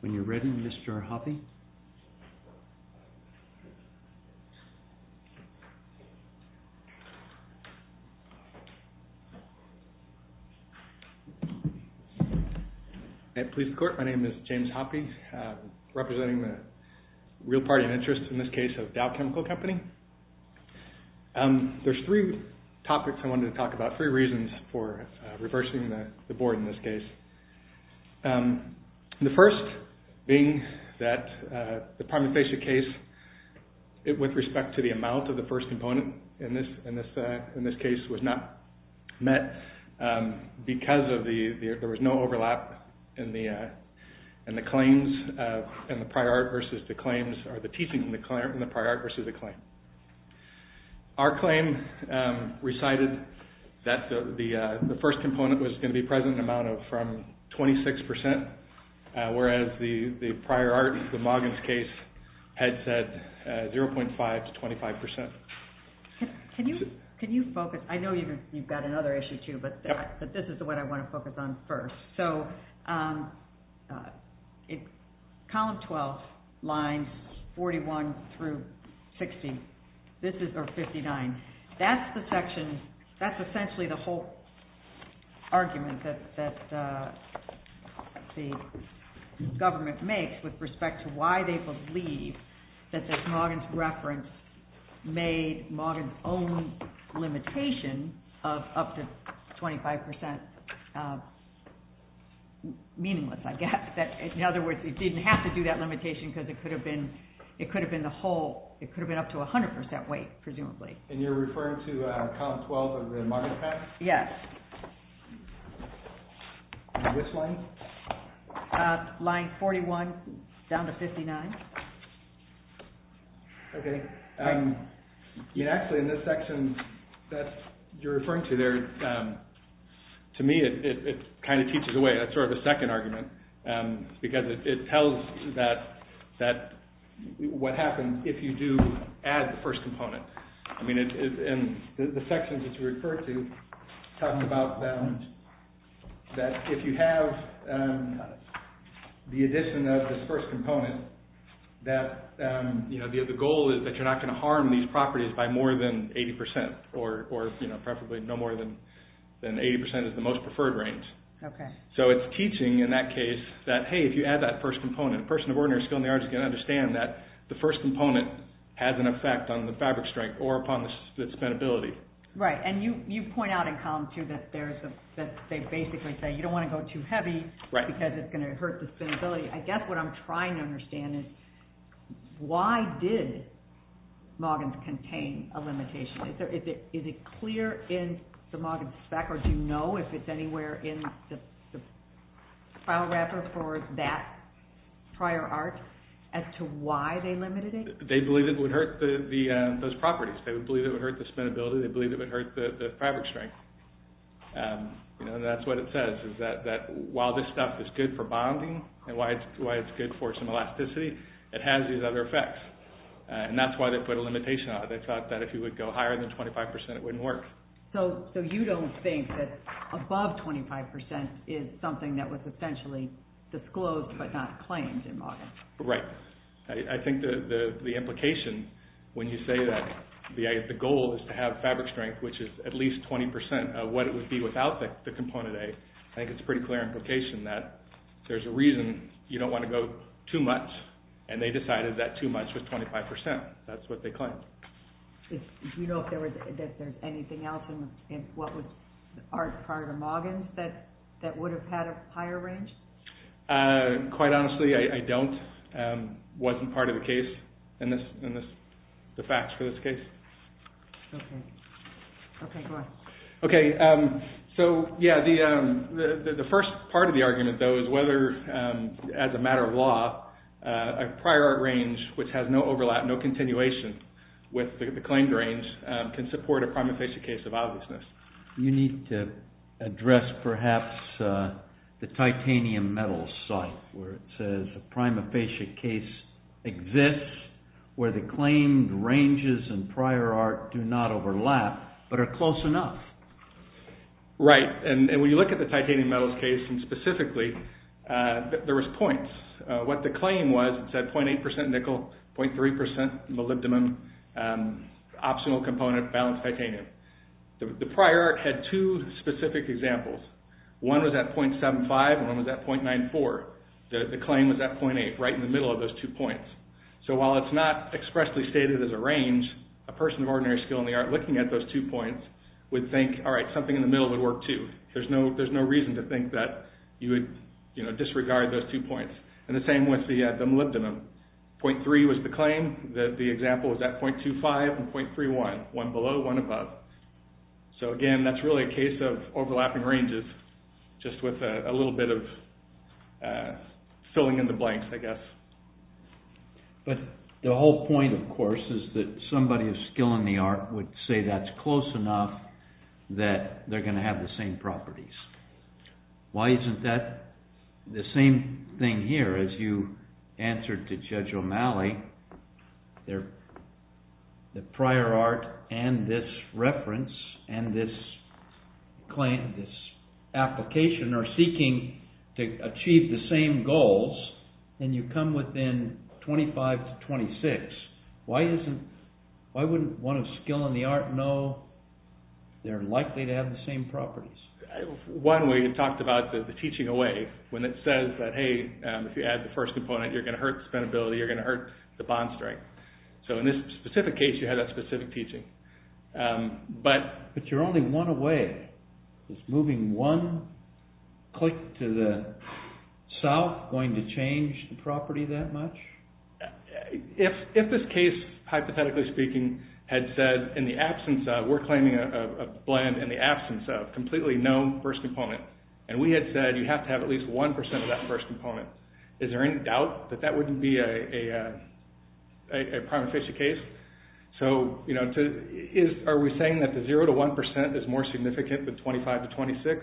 When you're ready, Mr. Hoppe. At Police Court, my name is James Hoppe, representing the real party of interest in this case of Dow Chemical Company. There's three topics I wanted to talk about, three reasons for reversing the board in this case. The first being that the prime facial case, with respect to the amount of the first component in this case, was not met because there was no overlap in the claims and the prior art versus the claims, or the teaching in the prior art versus the claim. Our claim recited that the first component was going to be present an amount of 26 percent, whereas the prior art, the Moggins case, had said 0.5 to 25 percent. Can you focus, I know you've got another issue too, but this is what I want to focus on first. Column 12, lines 41 through 59, that's essentially the whole argument that the government makes with respect to why they believe that this Moggins reference made Moggins' own limitation of up to 25 percent meaningless, I guess. In other words, it didn't have to do that limitation because it could have been up to 100 percent weight, presumably. And you're referring to column 12 of the Moggins Act? Yes. And this line? Line 41 down to 59. Okay. Actually, in this section that you're referring to there, to me it kind of teaches away, that's sort of a second argument, because it tells that what happens if you do add the first component. I mean, in the sections that you refer to, talking about balance, that if you have the addition of this first component, that the goal is that you're not going to harm these properties by more than 80 percent, or preferably no more than 80 percent is the most preferred range. Okay. So it's teaching, in that case, that hey, if you add that first component, a person of ordinary skill in the arts is going to understand that the first component has an effect on the fabric strength or upon the spin ability. Right. And you point out in column two that they basically say you don't want to go too heavy because it's going to hurt the spin ability. I guess what I'm trying to understand is why did Moggins contain a limitation? Is it clear in the Moggins spec, or do you know if it's anywhere in the file wrapper for that prior art as to why they limited it? They believe it would hurt those properties. They believe it would hurt the spin ability. They believe it would hurt the fabric strength. And that's what it says, is that while this stuff is good for bonding and why it's good for some elasticity, it has these other effects. And that's why they put a limitation on it. They thought that if you would go higher than 25 percent, it wouldn't work. So you don't think that above 25 percent is something that was essentially disclosed but not claimed in Moggins? Right. I think the implication, when you say that the goal is to have fabric strength, which is at least 20 percent of what it would be without the component A, I think it's a pretty clear implication that there's a reason you don't want to go too much, and they decided that too much was 25 percent. That's what they claimed. Do you know if there's anything else in what was art prior to Moggins that would have had a higher range? Quite honestly, I don't. It wasn't part of the case in the facts for this case. Okay. Okay, go on. Okay. So, yeah, the first part of the argument, though, is whether, as a matter of law, a prior art range which has no overlap, no continuation with the claimed range can support a prima facie case of obviousness. You need to address, perhaps, the titanium metal site where it says a prima facie case exists where the claimed ranges in prior art do not overlap but are close enough. Right. And when you look at the titanium metals case, and specifically, there was points. What the claim was, it said 0.8 percent nickel, 0.3 percent molybdenum, optional component balanced titanium. The prior art had two specific examples. One was at 0.75 and one was at 0.94. The claim was at 0.8, right in the middle of those two points. So, while it's not expressly stated as a range, a person of ordinary skill in the art looking at those two points would think, all right, something in the middle would work, too. There's no reason to think that you would disregard those two points. And the same with the molybdenum. 0.3 was the claim. The example was at 0.25 and 0.31, one below, one above. So, again, that's really a case of overlapping ranges, just with a little bit of filling in the blanks, I guess. But the whole point, of course, is that somebody of skill in the art would say that's close enough that they're going to have the same properties. Why isn't that the same thing here? As you answered to Judge O'Malley, the prior art and this reference and this application are seeking to achieve the same goals, and you come within 0.25 to 0.26. Why wouldn't one of skill in the art know they're likely to have the same properties? One way, you talked about the teaching away, when it says that, hey, if you add the first component, you're going to hurt the spendability, you're going to hurt the bond strength. So in this specific case, you had that specific teaching. But you're only one away. Is moving one click to the south going to change the property that much? If this case, hypothetically speaking, had said, in the absence of, we're claiming a known first component, and we had said you have to have at least 1% of that first component, is there any doubt that that wouldn't be a prima facie case? So are we saying that the 0 to 1% is more significant than 25 to 26?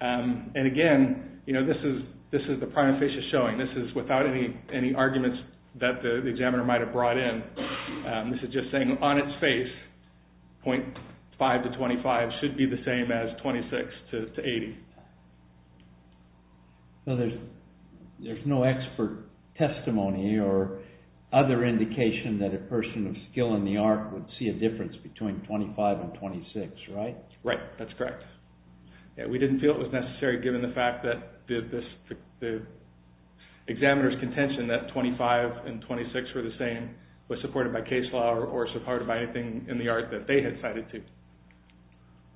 And again, this is the prima facie showing. This is without any arguments that the examiner might have brought in. This is just saying on its face, 0.5 to 25 should be the same as 26 to 80. So there's no expert testimony or other indication that a person of skill in the art would see a difference between 25 and 26, right? Right, that's correct. We didn't feel it was necessary given the fact that the examiner's contention that 25 and 26 were the same was supported by case law or supported by anything in the art that they had cited to.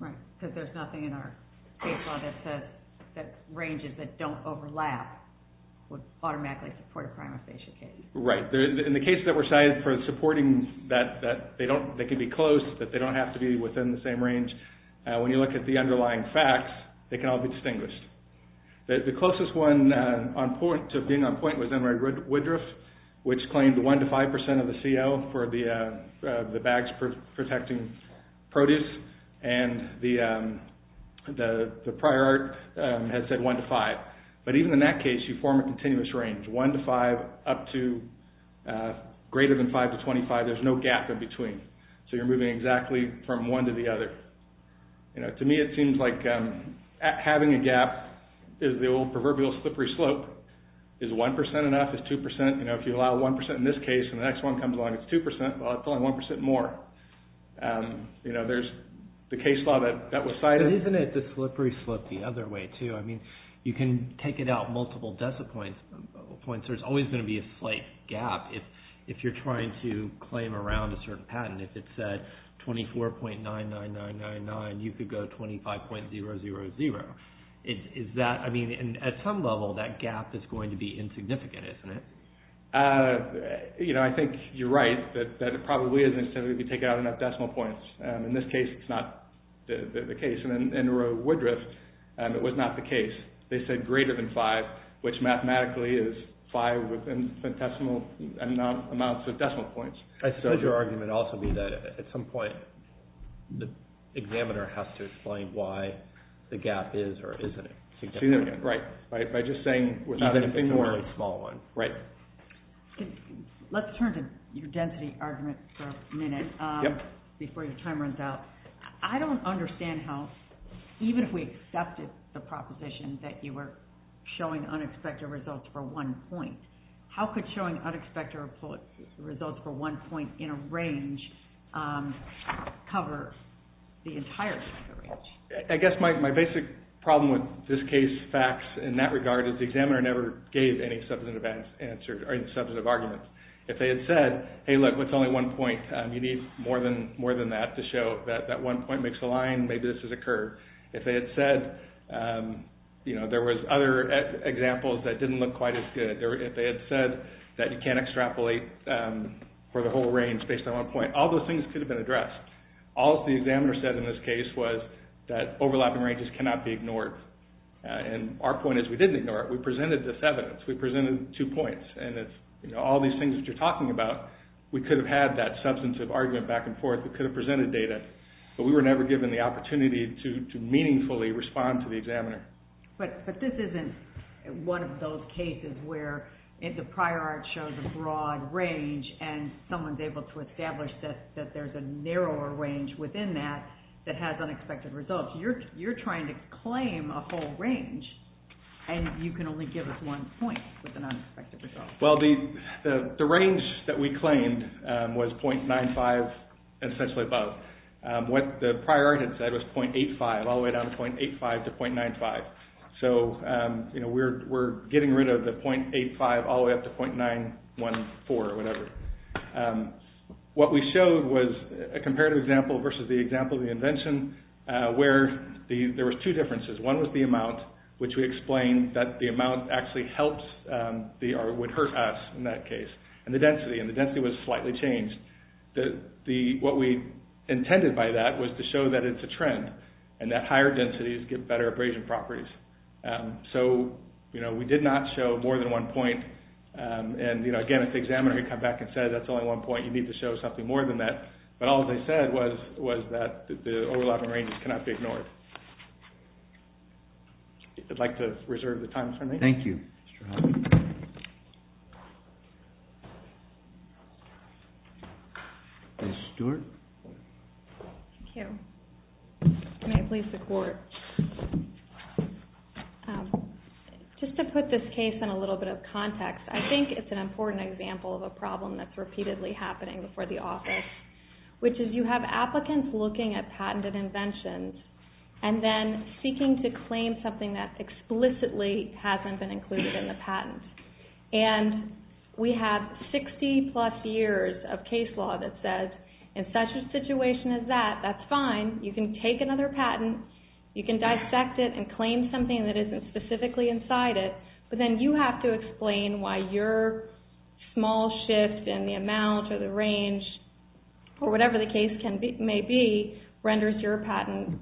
Right, because there's nothing in our case law that says that ranges that don't overlap would automatically support a prima facie case. Right. In the cases that were cited for supporting that they can be close, that they don't have to be within the same range, when you look at the underlying facts, they can all be distinguished. The closest one to being on point was Emery Woodruff, which claimed 1 to 5% of the CO for the bags protecting produce, and the prior art has said 1 to 5. But even in that case, you form a continuous range, 1 to 5 up to greater than 5 to 25, there's no gap in between. So you're moving exactly from one to the other. To me, it seems like having a gap is the old proverbial slippery slope. Is 1% enough? Is 2%? If you allow 1% in this case and the next one comes along, it's 2%, well, it's only 1% more. There's the case law that was cited. Isn't it the slippery slope the other way too? You can take it out multiple decimal points. There's always going to be a slight gap if you're trying to claim around a certain patent. If it said 24.99999, you could go 25.000. At some level, that gap is going to be insignificant, isn't it? I think you're right that it probably isn't if you take out enough decimal points. In this case, it's not the case. In Woodruff, it was not the case. They said greater than 5, which mathematically is 5 amounts of decimal points. I suppose your argument would also be that at some point, the examiner has to explain why the gap is or isn't significant. Right, by just saying without anything more. Let's turn to your density argument for a minute before your time runs out. I don't understand how, even if we accepted the proposition that you were showing unexpected results for one point, how could showing unexpected results for one point in a range cover the entirety of the range? I guess my basic problem with this case facts in that regard is the examiner never gave any substantive arguments. If they had said, hey look, it's only one point, you need more than that to show that that one point makes a line, maybe this is a curve. If they had said there was other examples that didn't look quite as good, if they had said that you can't extrapolate for the whole range based on one point, all those things could have been addressed. All the examiner said in this case was that overlapping ranges cannot be ignored. Our point is we didn't ignore it. We presented this evidence. We presented two points. All these things that you're talking about, we could have had that substantive argument back and forth. We could have presented data, but we were never given the opportunity to meaningfully respond to the examiner. But this isn't one of those cases where the prior art shows a broad range and someone is able to establish that there is a narrower range within that that has unexpected results. You're trying to claim a whole range and you can only give us one point with an unexpected result. Well, the range that we claimed was .95 and essentially above. What the prior art had said was .85 all the way down to .85 to .95. So we're getting rid of the .85 all the way up to .914 or whatever. What we showed was a comparative example versus the example of the invention where there were two differences. One was the amount, which we explained that the amount actually helps or would hurt us in that case, and the density, and the density was slightly changed. What we intended by that was to show that it's a trend and that higher densities give better abrasion properties. So we did not show more than one point. And, again, if the examiner had come back and said that's only one point, you need to show something more than that. But all they said was that the overlapping ranges cannot be ignored. I'd like to reserve the time for me. Thank you. Ms. Stewart? Thank you. May it please the Court. Just to put this case in a little bit of context, I think it's an important example of a problem that's repeatedly happening before the office, which is you have applicants looking at patented inventions that explicitly hasn't been included in the patent. And we have 60-plus years of case law that says, in such a situation as that, that's fine. You can take another patent. You can dissect it and claim something that isn't specifically inside it. But then you have to explain why your small shift in the amount or the range or whatever the case may be renders your patent,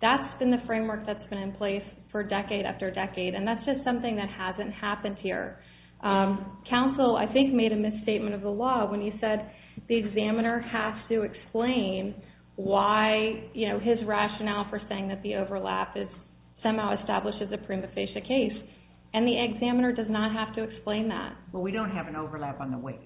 that's been the framework that's been in place for decade after decade. And that's just something that hasn't happened here. Counsel, I think, made a misstatement of the law when he said the examiner has to explain why his rationale for saying that the overlap somehow establishes a prima facie case. And the examiner does not have to explain that. Well, we don't have an overlap on the weight.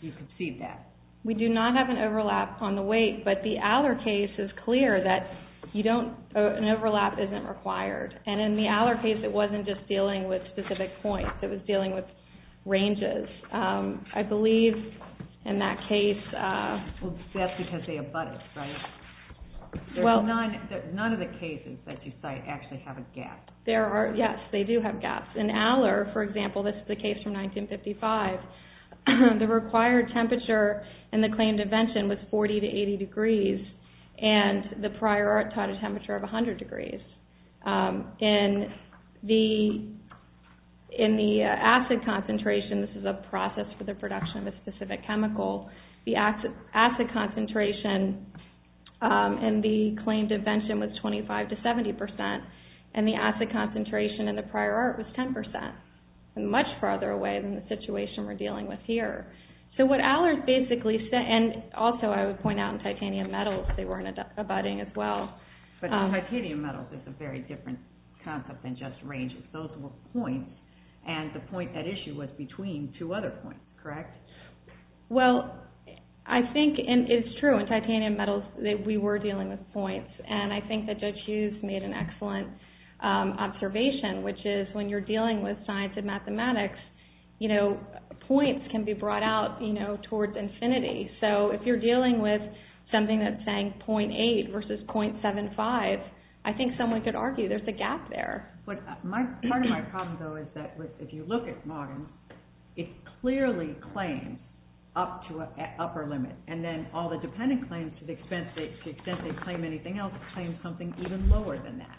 You can see that. We do not have an overlap on the weight. But the Aller case is clear that an overlap isn't required. And in the Aller case, it wasn't just dealing with specific points. It was dealing with ranges. I believe in that case... That's because they abut it, right? None of the cases that you cite actually have a gap. Yes, they do have gaps. In Aller, for example, this is a case from 1955. The required temperature in the claimed invention was 40 to 80 degrees. And the prior art taught a temperature of 100 degrees. In the acid concentration, this is a process for the production of a specific chemical, the acid concentration in the claimed invention was 25 to 70 percent. And the acid concentration in the prior art was 10 percent. Much farther away than the situation we're dealing with here. So what Aller basically said... And also, I would point out, in titanium metals, they weren't abutting as well. But in titanium metals, it's a very different concept than just ranges. Those were points, and the point at issue was between two other points, correct? Well, I think it's true. In titanium metals, we were dealing with points. And I think that Judge Hughes made an excellent observation, which is when you're dealing with science and mathematics, points can be brought out towards infinity. So if you're dealing with something that's saying 0.8 versus 0.75, I think someone could argue there's a gap there. But part of my problem, though, is that if you look at Moggins, it clearly claims up to an upper limit. And then all the dependent claims, to the extent they claim anything else, claim something even lower than that.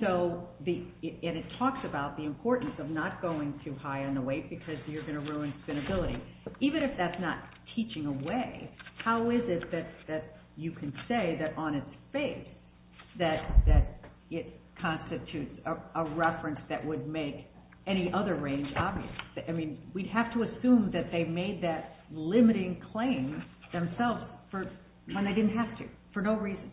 And it talks about the importance of not going too high on the weight because you're going to ruin spinability. Even if that's not teaching away, how is it that you can say that on its face that it constitutes a reference that would make any other range obvious? I mean, we'd have to assume that they made that limiting claim themselves when they didn't have to, for no reason.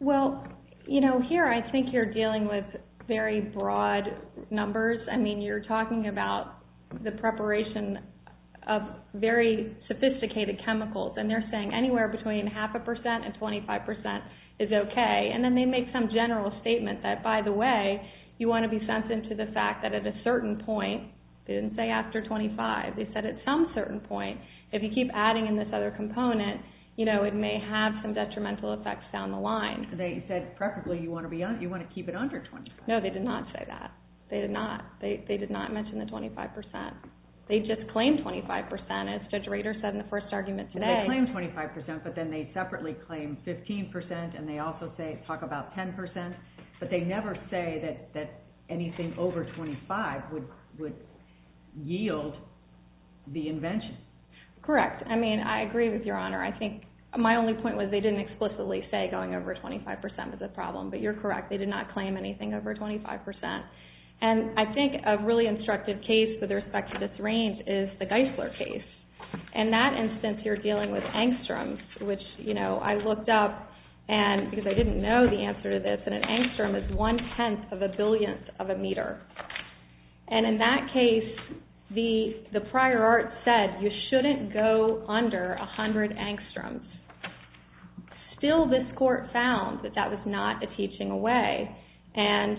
Well, you know, here I think you're dealing with very broad numbers. I mean, you're talking about the preparation of very sophisticated chemicals. And they're saying anywhere between 0.5% and 25% is okay. And then they make some general statement that, by the way, you want to be sent into the fact that at a certain point, they didn't say after 25, they said at some certain point, if you keep adding in this other component, it may have some detrimental effects down the line. They said preferably you want to keep it under 25. No, they did not say that. They did not. They did not mention the 25%. They just claimed 25%, as Judge Rader said in the first argument today. Well, they claimed 25%, but then they separately claimed 15%, and they also talk about 10%. But they never say that anything over 25 would yield the invention. Correct. I mean, I agree with Your Honor. I think my only point was they didn't explicitly say going over 25% was a problem, but you're correct. They did not claim anything over 25%. And I think a really instructive case with respect to this range is the Geisler case. In that instance, you're dealing with angstroms, which, you know, I looked up because I didn't know the answer to this, and an angstrom is one-tenth of a billionth of a meter. And in that case, the prior art said you shouldn't go under 100 angstroms. Still, this court found that that was not a teaching away. And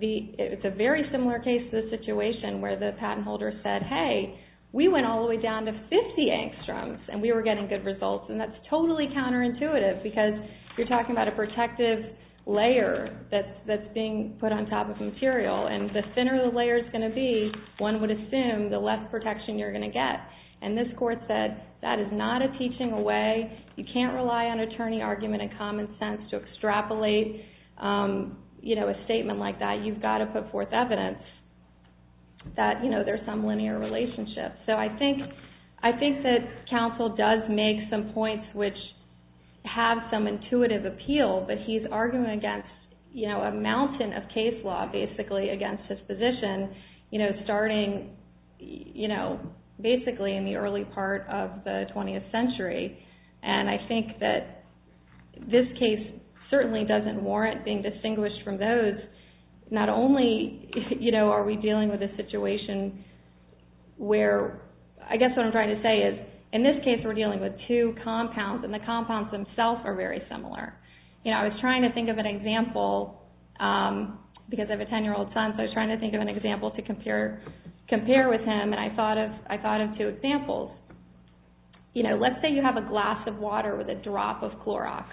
it's a very similar case to the situation where the patent holder said, hey, we went all the way down to 50 angstroms, and we were getting good results. And that's totally counterintuitive because you're talking about a protective layer that's being put on top of material. And the thinner the layer is going to be, one would assume the less protection you're going to get. And this court said that is not a teaching away. You can't rely on attorney argument and common sense to extrapolate, you know, a statement like that. You've got to put forth evidence that, you know, there's some linear relationship. So I think that counsel does make some points which have some intuitive appeal, but he's arguing against, you know, a mountain of case law basically against his position, you know, starting, you know, basically in the early part of the 20th century. And I think that this case certainly doesn't warrant being distinguished from those. Not only, you know, are we dealing with a situation where, I guess what I'm trying to say is in this case we're dealing with two compounds, and the compounds themselves are very similar. You know, I was trying to think of an example because I have a 10-year-old son, so I was trying to think of an example to compare with him, and I thought of two examples. You know, let's say you have a glass of water with a drop of Clorox.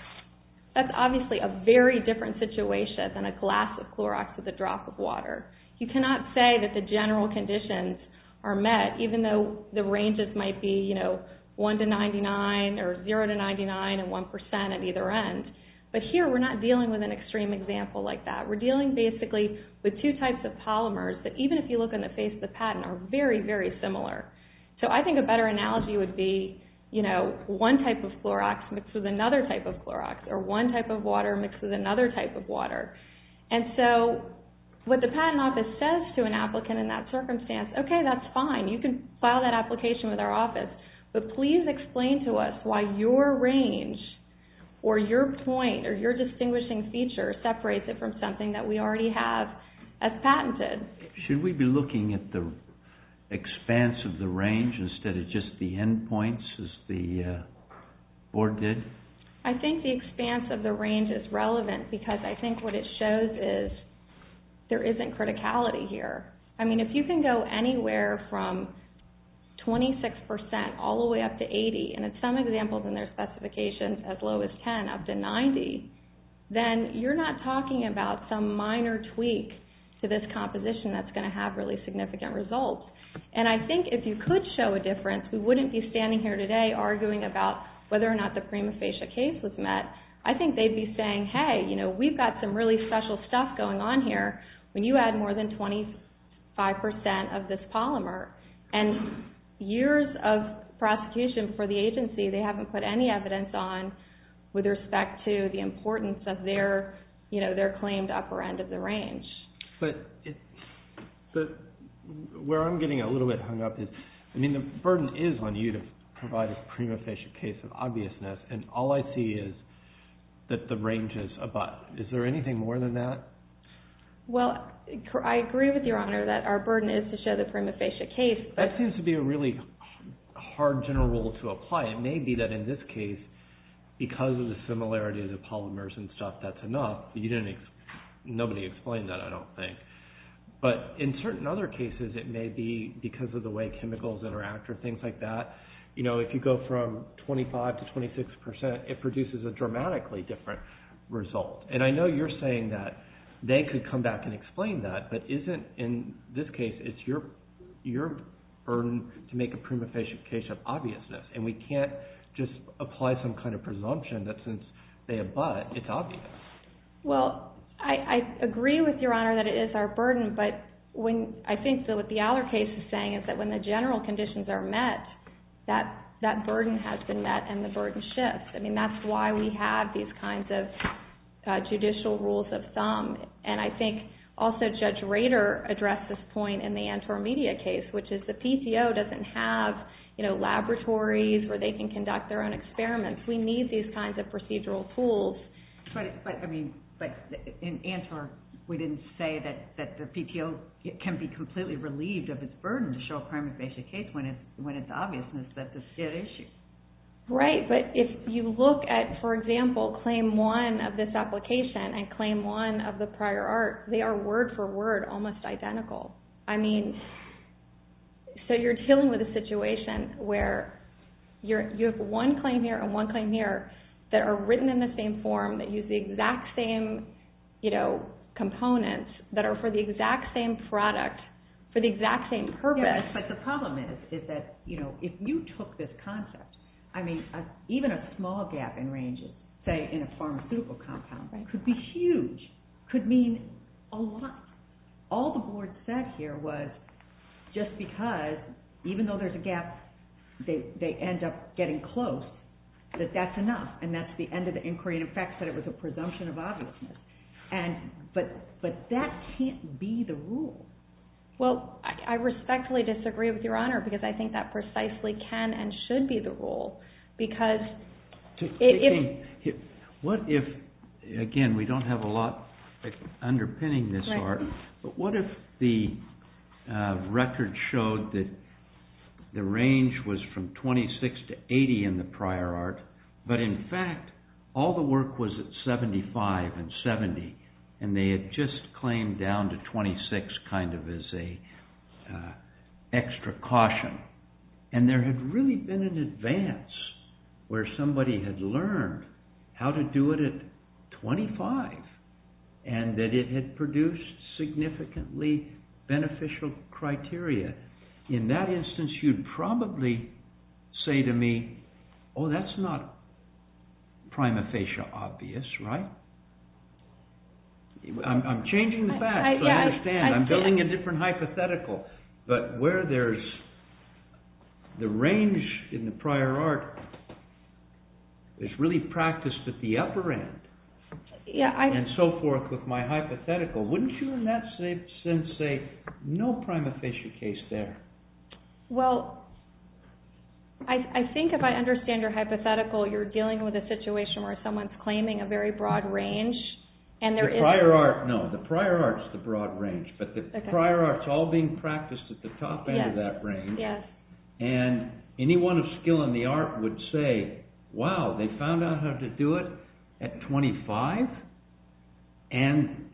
That's obviously a very different situation than a glass of Clorox with a drop of water. You cannot say that the general conditions are met, even though the ranges might be, you know, 1 to 99, or 0 to 99, and 1% at either end. But here we're not dealing with an extreme example like that. We're dealing basically with two types of polymers that even if you look in the face of the patent are very, very similar. So I think a better analogy would be, you know, one type of Clorox mixes another type of Clorox, or one type of water mixes another type of water. And so what the patent office says to an applicant in that circumstance, okay, that's fine. You can file that application with our office, but please explain to us why your range or your point or your distinguishing feature separates it from something that we already have as patented. Should we be looking at the expanse of the range instead of just the end points as the board did? I think the expanse of the range is relevant because I think what it shows is there isn't criticality here. I mean, if you can go anywhere from 26% all the way up to 80, and in some examples in their specifications as low as 10 up to 90, then you're not talking about some minor tweak to this composition that's going to have really significant results. And I think if you could show a difference, we wouldn't be standing here today arguing about whether or not the prima facie case was met. I think they'd be saying, hey, you know, we've got some really special stuff going on here. When you add more than 25% of this polymer and years of prosecution for the agency, they haven't put any evidence on with respect to the importance of their claimed upper end of the range. But where I'm getting a little bit hung up is, I mean, the burden is on you to provide a prima facie case of obviousness, and all I see is that the range is abut. Is there anything more than that? Well, I agree with your honor that our burden is to show the prima facie case. That seems to be a really hard general rule to apply. It may be that in this case, because of the similarity of the polymers and stuff, that's enough. Nobody explained that, I don't think. But in certain other cases, it may be because of the way chemicals interact or things like that. You know, if you go from 25 to 26%, it produces a dramatically different result. And I know you're saying that they could come back and explain that, but isn't in this case, it's your burden to make a prima facie case of obviousness. And we can't just apply some kind of presumption that since they abut, it's obvious. Well, I agree with your honor that it is our burden, but I think that what the Aller case is saying is that when the general conditions are met, that burden has been met and the burden shifts. I mean, that's why we have these kinds of judicial rules of thumb. And I think also Judge Rader addressed this point in the Antwerp media case, which is the PTO doesn't have laboratories where they can conduct their own experiments. We need these kinds of procedural tools. But in Antwerp, we didn't say that the PTO can be completely relieved of its burden to show a prima facie case when it's obvious that this is an issue. Right. But if you look at, for example, claim one of this application and claim one of the prior art, they are word for word almost identical. I mean, so you're dealing with a situation where you have one claim here and one claim here that are written in the same form, that use the exact same components, that are for the exact same product for the exact same purpose. But the problem is that if you took this concept, I mean, even a small gap in ranges, say in a pharmaceutical compound, could be huge, could mean a lot. All the board said here was just because, even though there's a gap, they end up getting close, that that's enough and that's the end of the inquiry. In fact, it was a presumption of obviousness. But that can't be the rule. Well, I respectfully disagree with your Honor, because I think that precisely can and should be the rule. Again, we don't have a lot underpinning this art, but what if the record showed that the range was from 26 to 80 in the prior art, but in fact, all the work was at 75 and 70, and they had just claimed down to 26 kind of as an extra caution. And there had really been an advance, where somebody had learned how to do it at 25, and that it had produced significantly beneficial criteria. In that instance, you'd probably say to me, Oh, that's not prima facie obvious, right? I'm changing the facts, I understand, I'm building a different hypothetical. But where there's the range in the prior art, is really practiced at the upper end, and so forth with my hypothetical. Wouldn't you in that sense say, no prima facie case there? Well, I think if I understand your hypothetical, you're dealing with a situation where someone's claiming a very broad range, The prior art, no, the prior art's the broad range, but the prior art's all being practiced at the top end of that range, and anyone of skill in the art would say, Wow, they found out how to do it at 25, and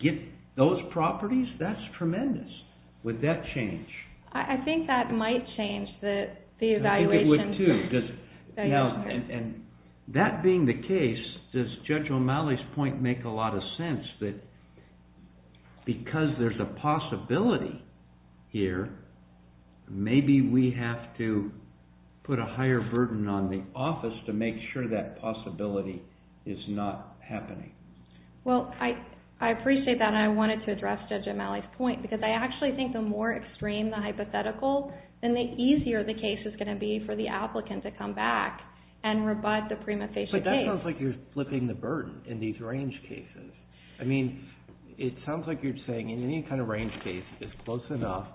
get those properties, that's tremendous. Would that change? I think that might change the evaluation. I think it would too, and that being the case, does Judge O'Malley's point make a lot of sense, that because there's a possibility here, maybe we have to put a higher burden on the office to make sure that possibility is not happening. Well, I appreciate that, and I wanted to address Judge O'Malley's point, because I actually think the more extreme the hypothetical, then the easier the case is going to be for the applicant to come back and rebut the prima facie case. But that sounds like you're flipping the burden in these range cases. I mean, it sounds like you're saying in any kind of range case, if it's close enough,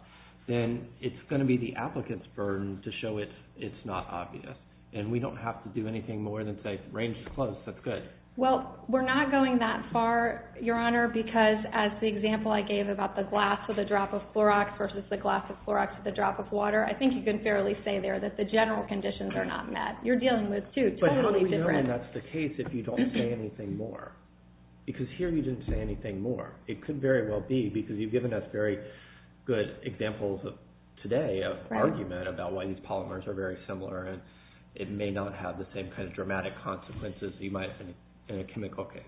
then it's going to be the applicant's burden to show it's not obvious, and we don't have to do anything more than say, range is close, that's good. Well, we're not going that far, Your Honor, because as the example I gave about the glass with a drop of Clorox versus the glass with Clorox with a drop of water, I think you can fairly say there that the general conditions are not met. You're dealing with two totally different... But how do we know that's the case if you don't say anything more? Because here you didn't say anything more. It could very well be, because you've given us very good examples today of argument about why these polymers are very similar, and it may not have the same kind of dramatic consequences you might have in a chemical case.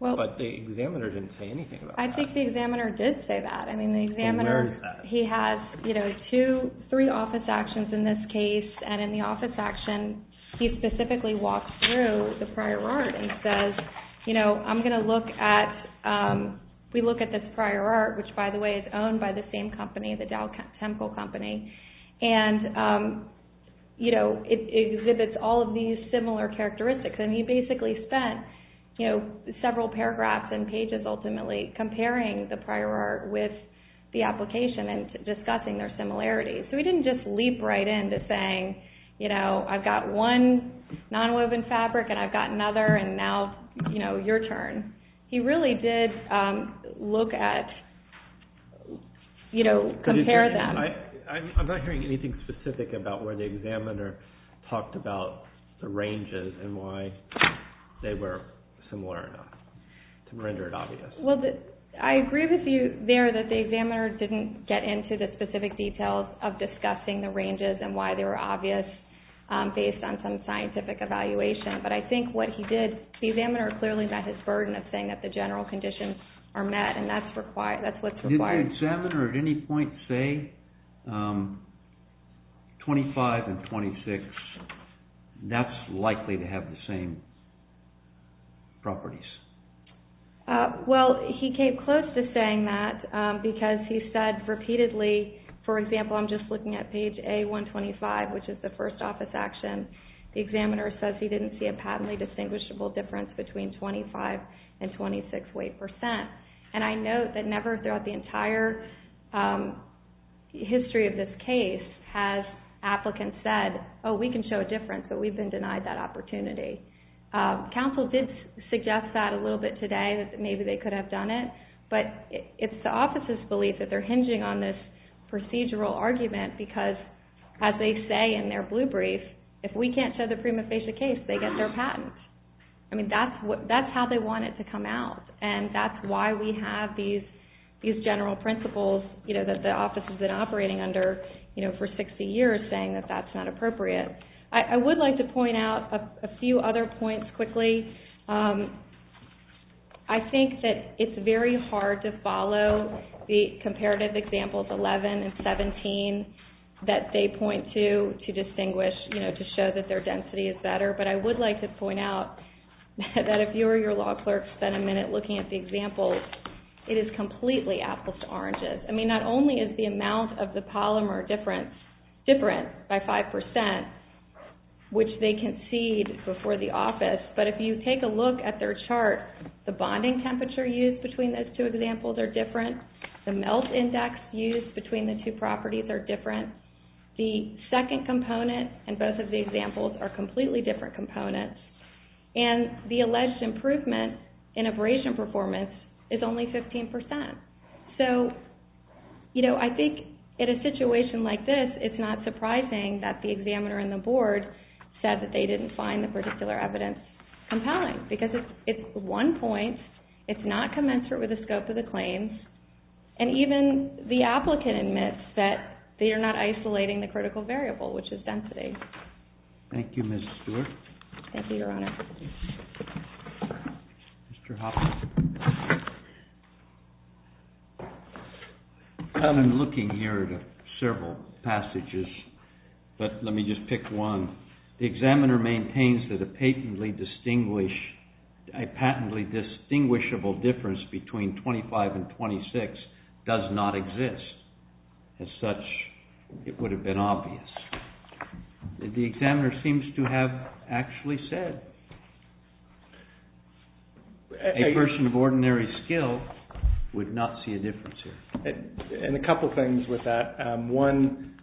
But the examiner didn't say anything about that. I think the examiner did say that. I mean, the examiner, he has three office actions in this case, and in the office action, he specifically walks through the prior art and says, you know, I'm going to look at... We look at this prior art, which, by the way, is owned by the same company, the Dow Temple Company, and, you know, it exhibits all of these similar characteristics. And he basically spent, you know, several paragraphs and pages, ultimately, comparing the prior art with the application and discussing their similarities. So he didn't just leap right in to saying, you know, I've got one nonwoven fabric and I've got another, and now, you know, your turn. He really did look at, you know, compare them. I'm not hearing anything specific about where the examiner talked about the ranges and why they were similar or not, to render it obvious. Well, I agree with you there that the examiner didn't get into the specific details of discussing the ranges and why they were obvious based on some scientific evaluation. But I think what he did, the examiner clearly met his burden of saying that the general conditions are met, and that's what's required. Did the examiner at any point say 25 and 26? That's likely to have the same properties. Well, he came close to saying that because he said repeatedly, for example, I'm just looking at page A125, which is the first office action. The examiner says he didn't see a patently distinguishable difference between 25 and 26 weight percent. And I note that never throughout the entire history of this case has applicants said, oh, we can show a difference, but we've been denied that opportunity. Counsel did suggest that a little bit today, that maybe they could have done it. But it's the office's belief that they're hinging on this procedural argument because, as they say in their blue brief, if we can't show the prima facie case, they get their patent. I mean, that's how they want it to come out. And that's why we have these general principles, you know, that the office has been operating under, you know, for 60 years, saying that that's not appropriate. I would like to point out a few other points quickly. I think that it's very hard to follow the comparative examples 11 and 17 that they point to to distinguish, you know, to show that their density is better. But I would like to point out that if you or your law clerk spent a minute looking at the examples, it is completely apples to oranges. I mean, not only is the amount of the polymer different by 5%, which they concede before the office, but if you take a look at their chart, the bonding temperature used between those two examples are different. The melt index used between the two properties are different. The second component and both of the examples are completely different components. And the alleged improvement in abrasion performance is only 15%. So, you know, I think in a situation like this, it's not surprising that the examiner and the board said that they didn't find the particular evidence compelling, because it's one point, it's not commensurate with the scope of the claims, and even the applicant admits that they are not isolating the critical variable, which is density. Thank you, Ms. Stewart. Thank you, Your Honor. Mr. Hoffman. I've been looking here at several passages, but let me just pick one. The examiner maintains that a patently distinguishable difference between 25 and 26 does not exist. As such, it would have been obvious. The examiner seems to have actually said a person of ordinary skill would not see a difference here. And a couple of things with that. One,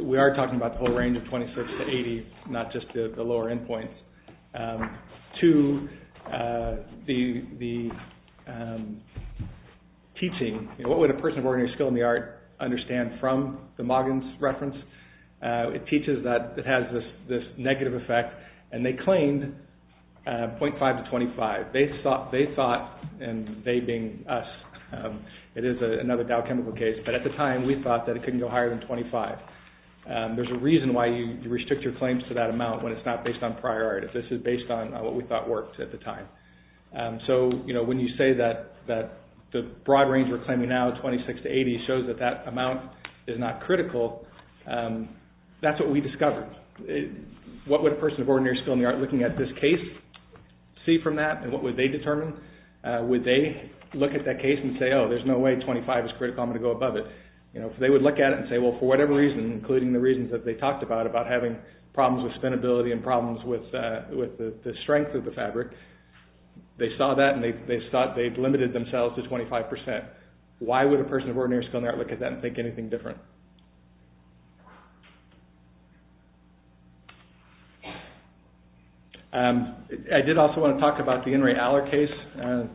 we are talking about the whole range of 26 to 80, not just the lower end points. Two, the teaching, what would a person of ordinary skill in the art understand from the Moggins reference? It teaches that it has this negative effect, and they claimed 0.5 to 25. They thought, and they being us, it is another Dow Chemical case, but at the time, we thought that it couldn't go higher than 25. There's a reason why you restrict your claims to that amount when it's not based on priority. This is based on what we thought worked at the time. So when you say that the broad range we're claiming now, 26 to 80, shows that that amount is not critical, that's what we discovered. What would a person of ordinary skill in the art looking at this case see from that, and what would they determine? Would they look at that case and say, oh, there's no way 25 is critical, I'm going to go above it? If they would look at it and say, well, for whatever reason, including the reasons that they talked about, about having problems with spinability and problems with the strength of the fabric, they saw that, and they thought they'd limited themselves to 25%. Why would a person of ordinary skill in the art look at that and think anything different? I did also want to talk about the Henry Aller case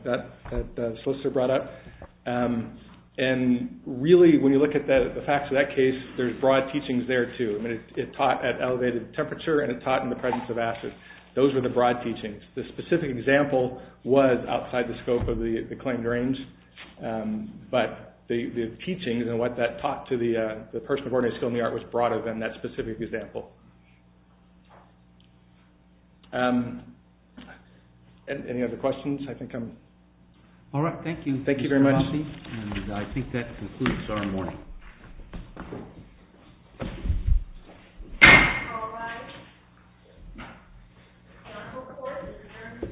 that the solicitor brought up. And really, when you look at the facts of that case, there's broad teachings there too. It taught at elevated temperature, and it taught in the presence of acid. Those were the broad teachings. The specific example was outside the scope of the claimed range, but the teachings and what that taught to the person of ordinary skill in the art was broader than that specific example. Any other questions? All right, thank you, Mr. McCarthy. Thank you very much. And I think that concludes our morning. All rise. The court is adjourned until 12.30 at 10 o'clock.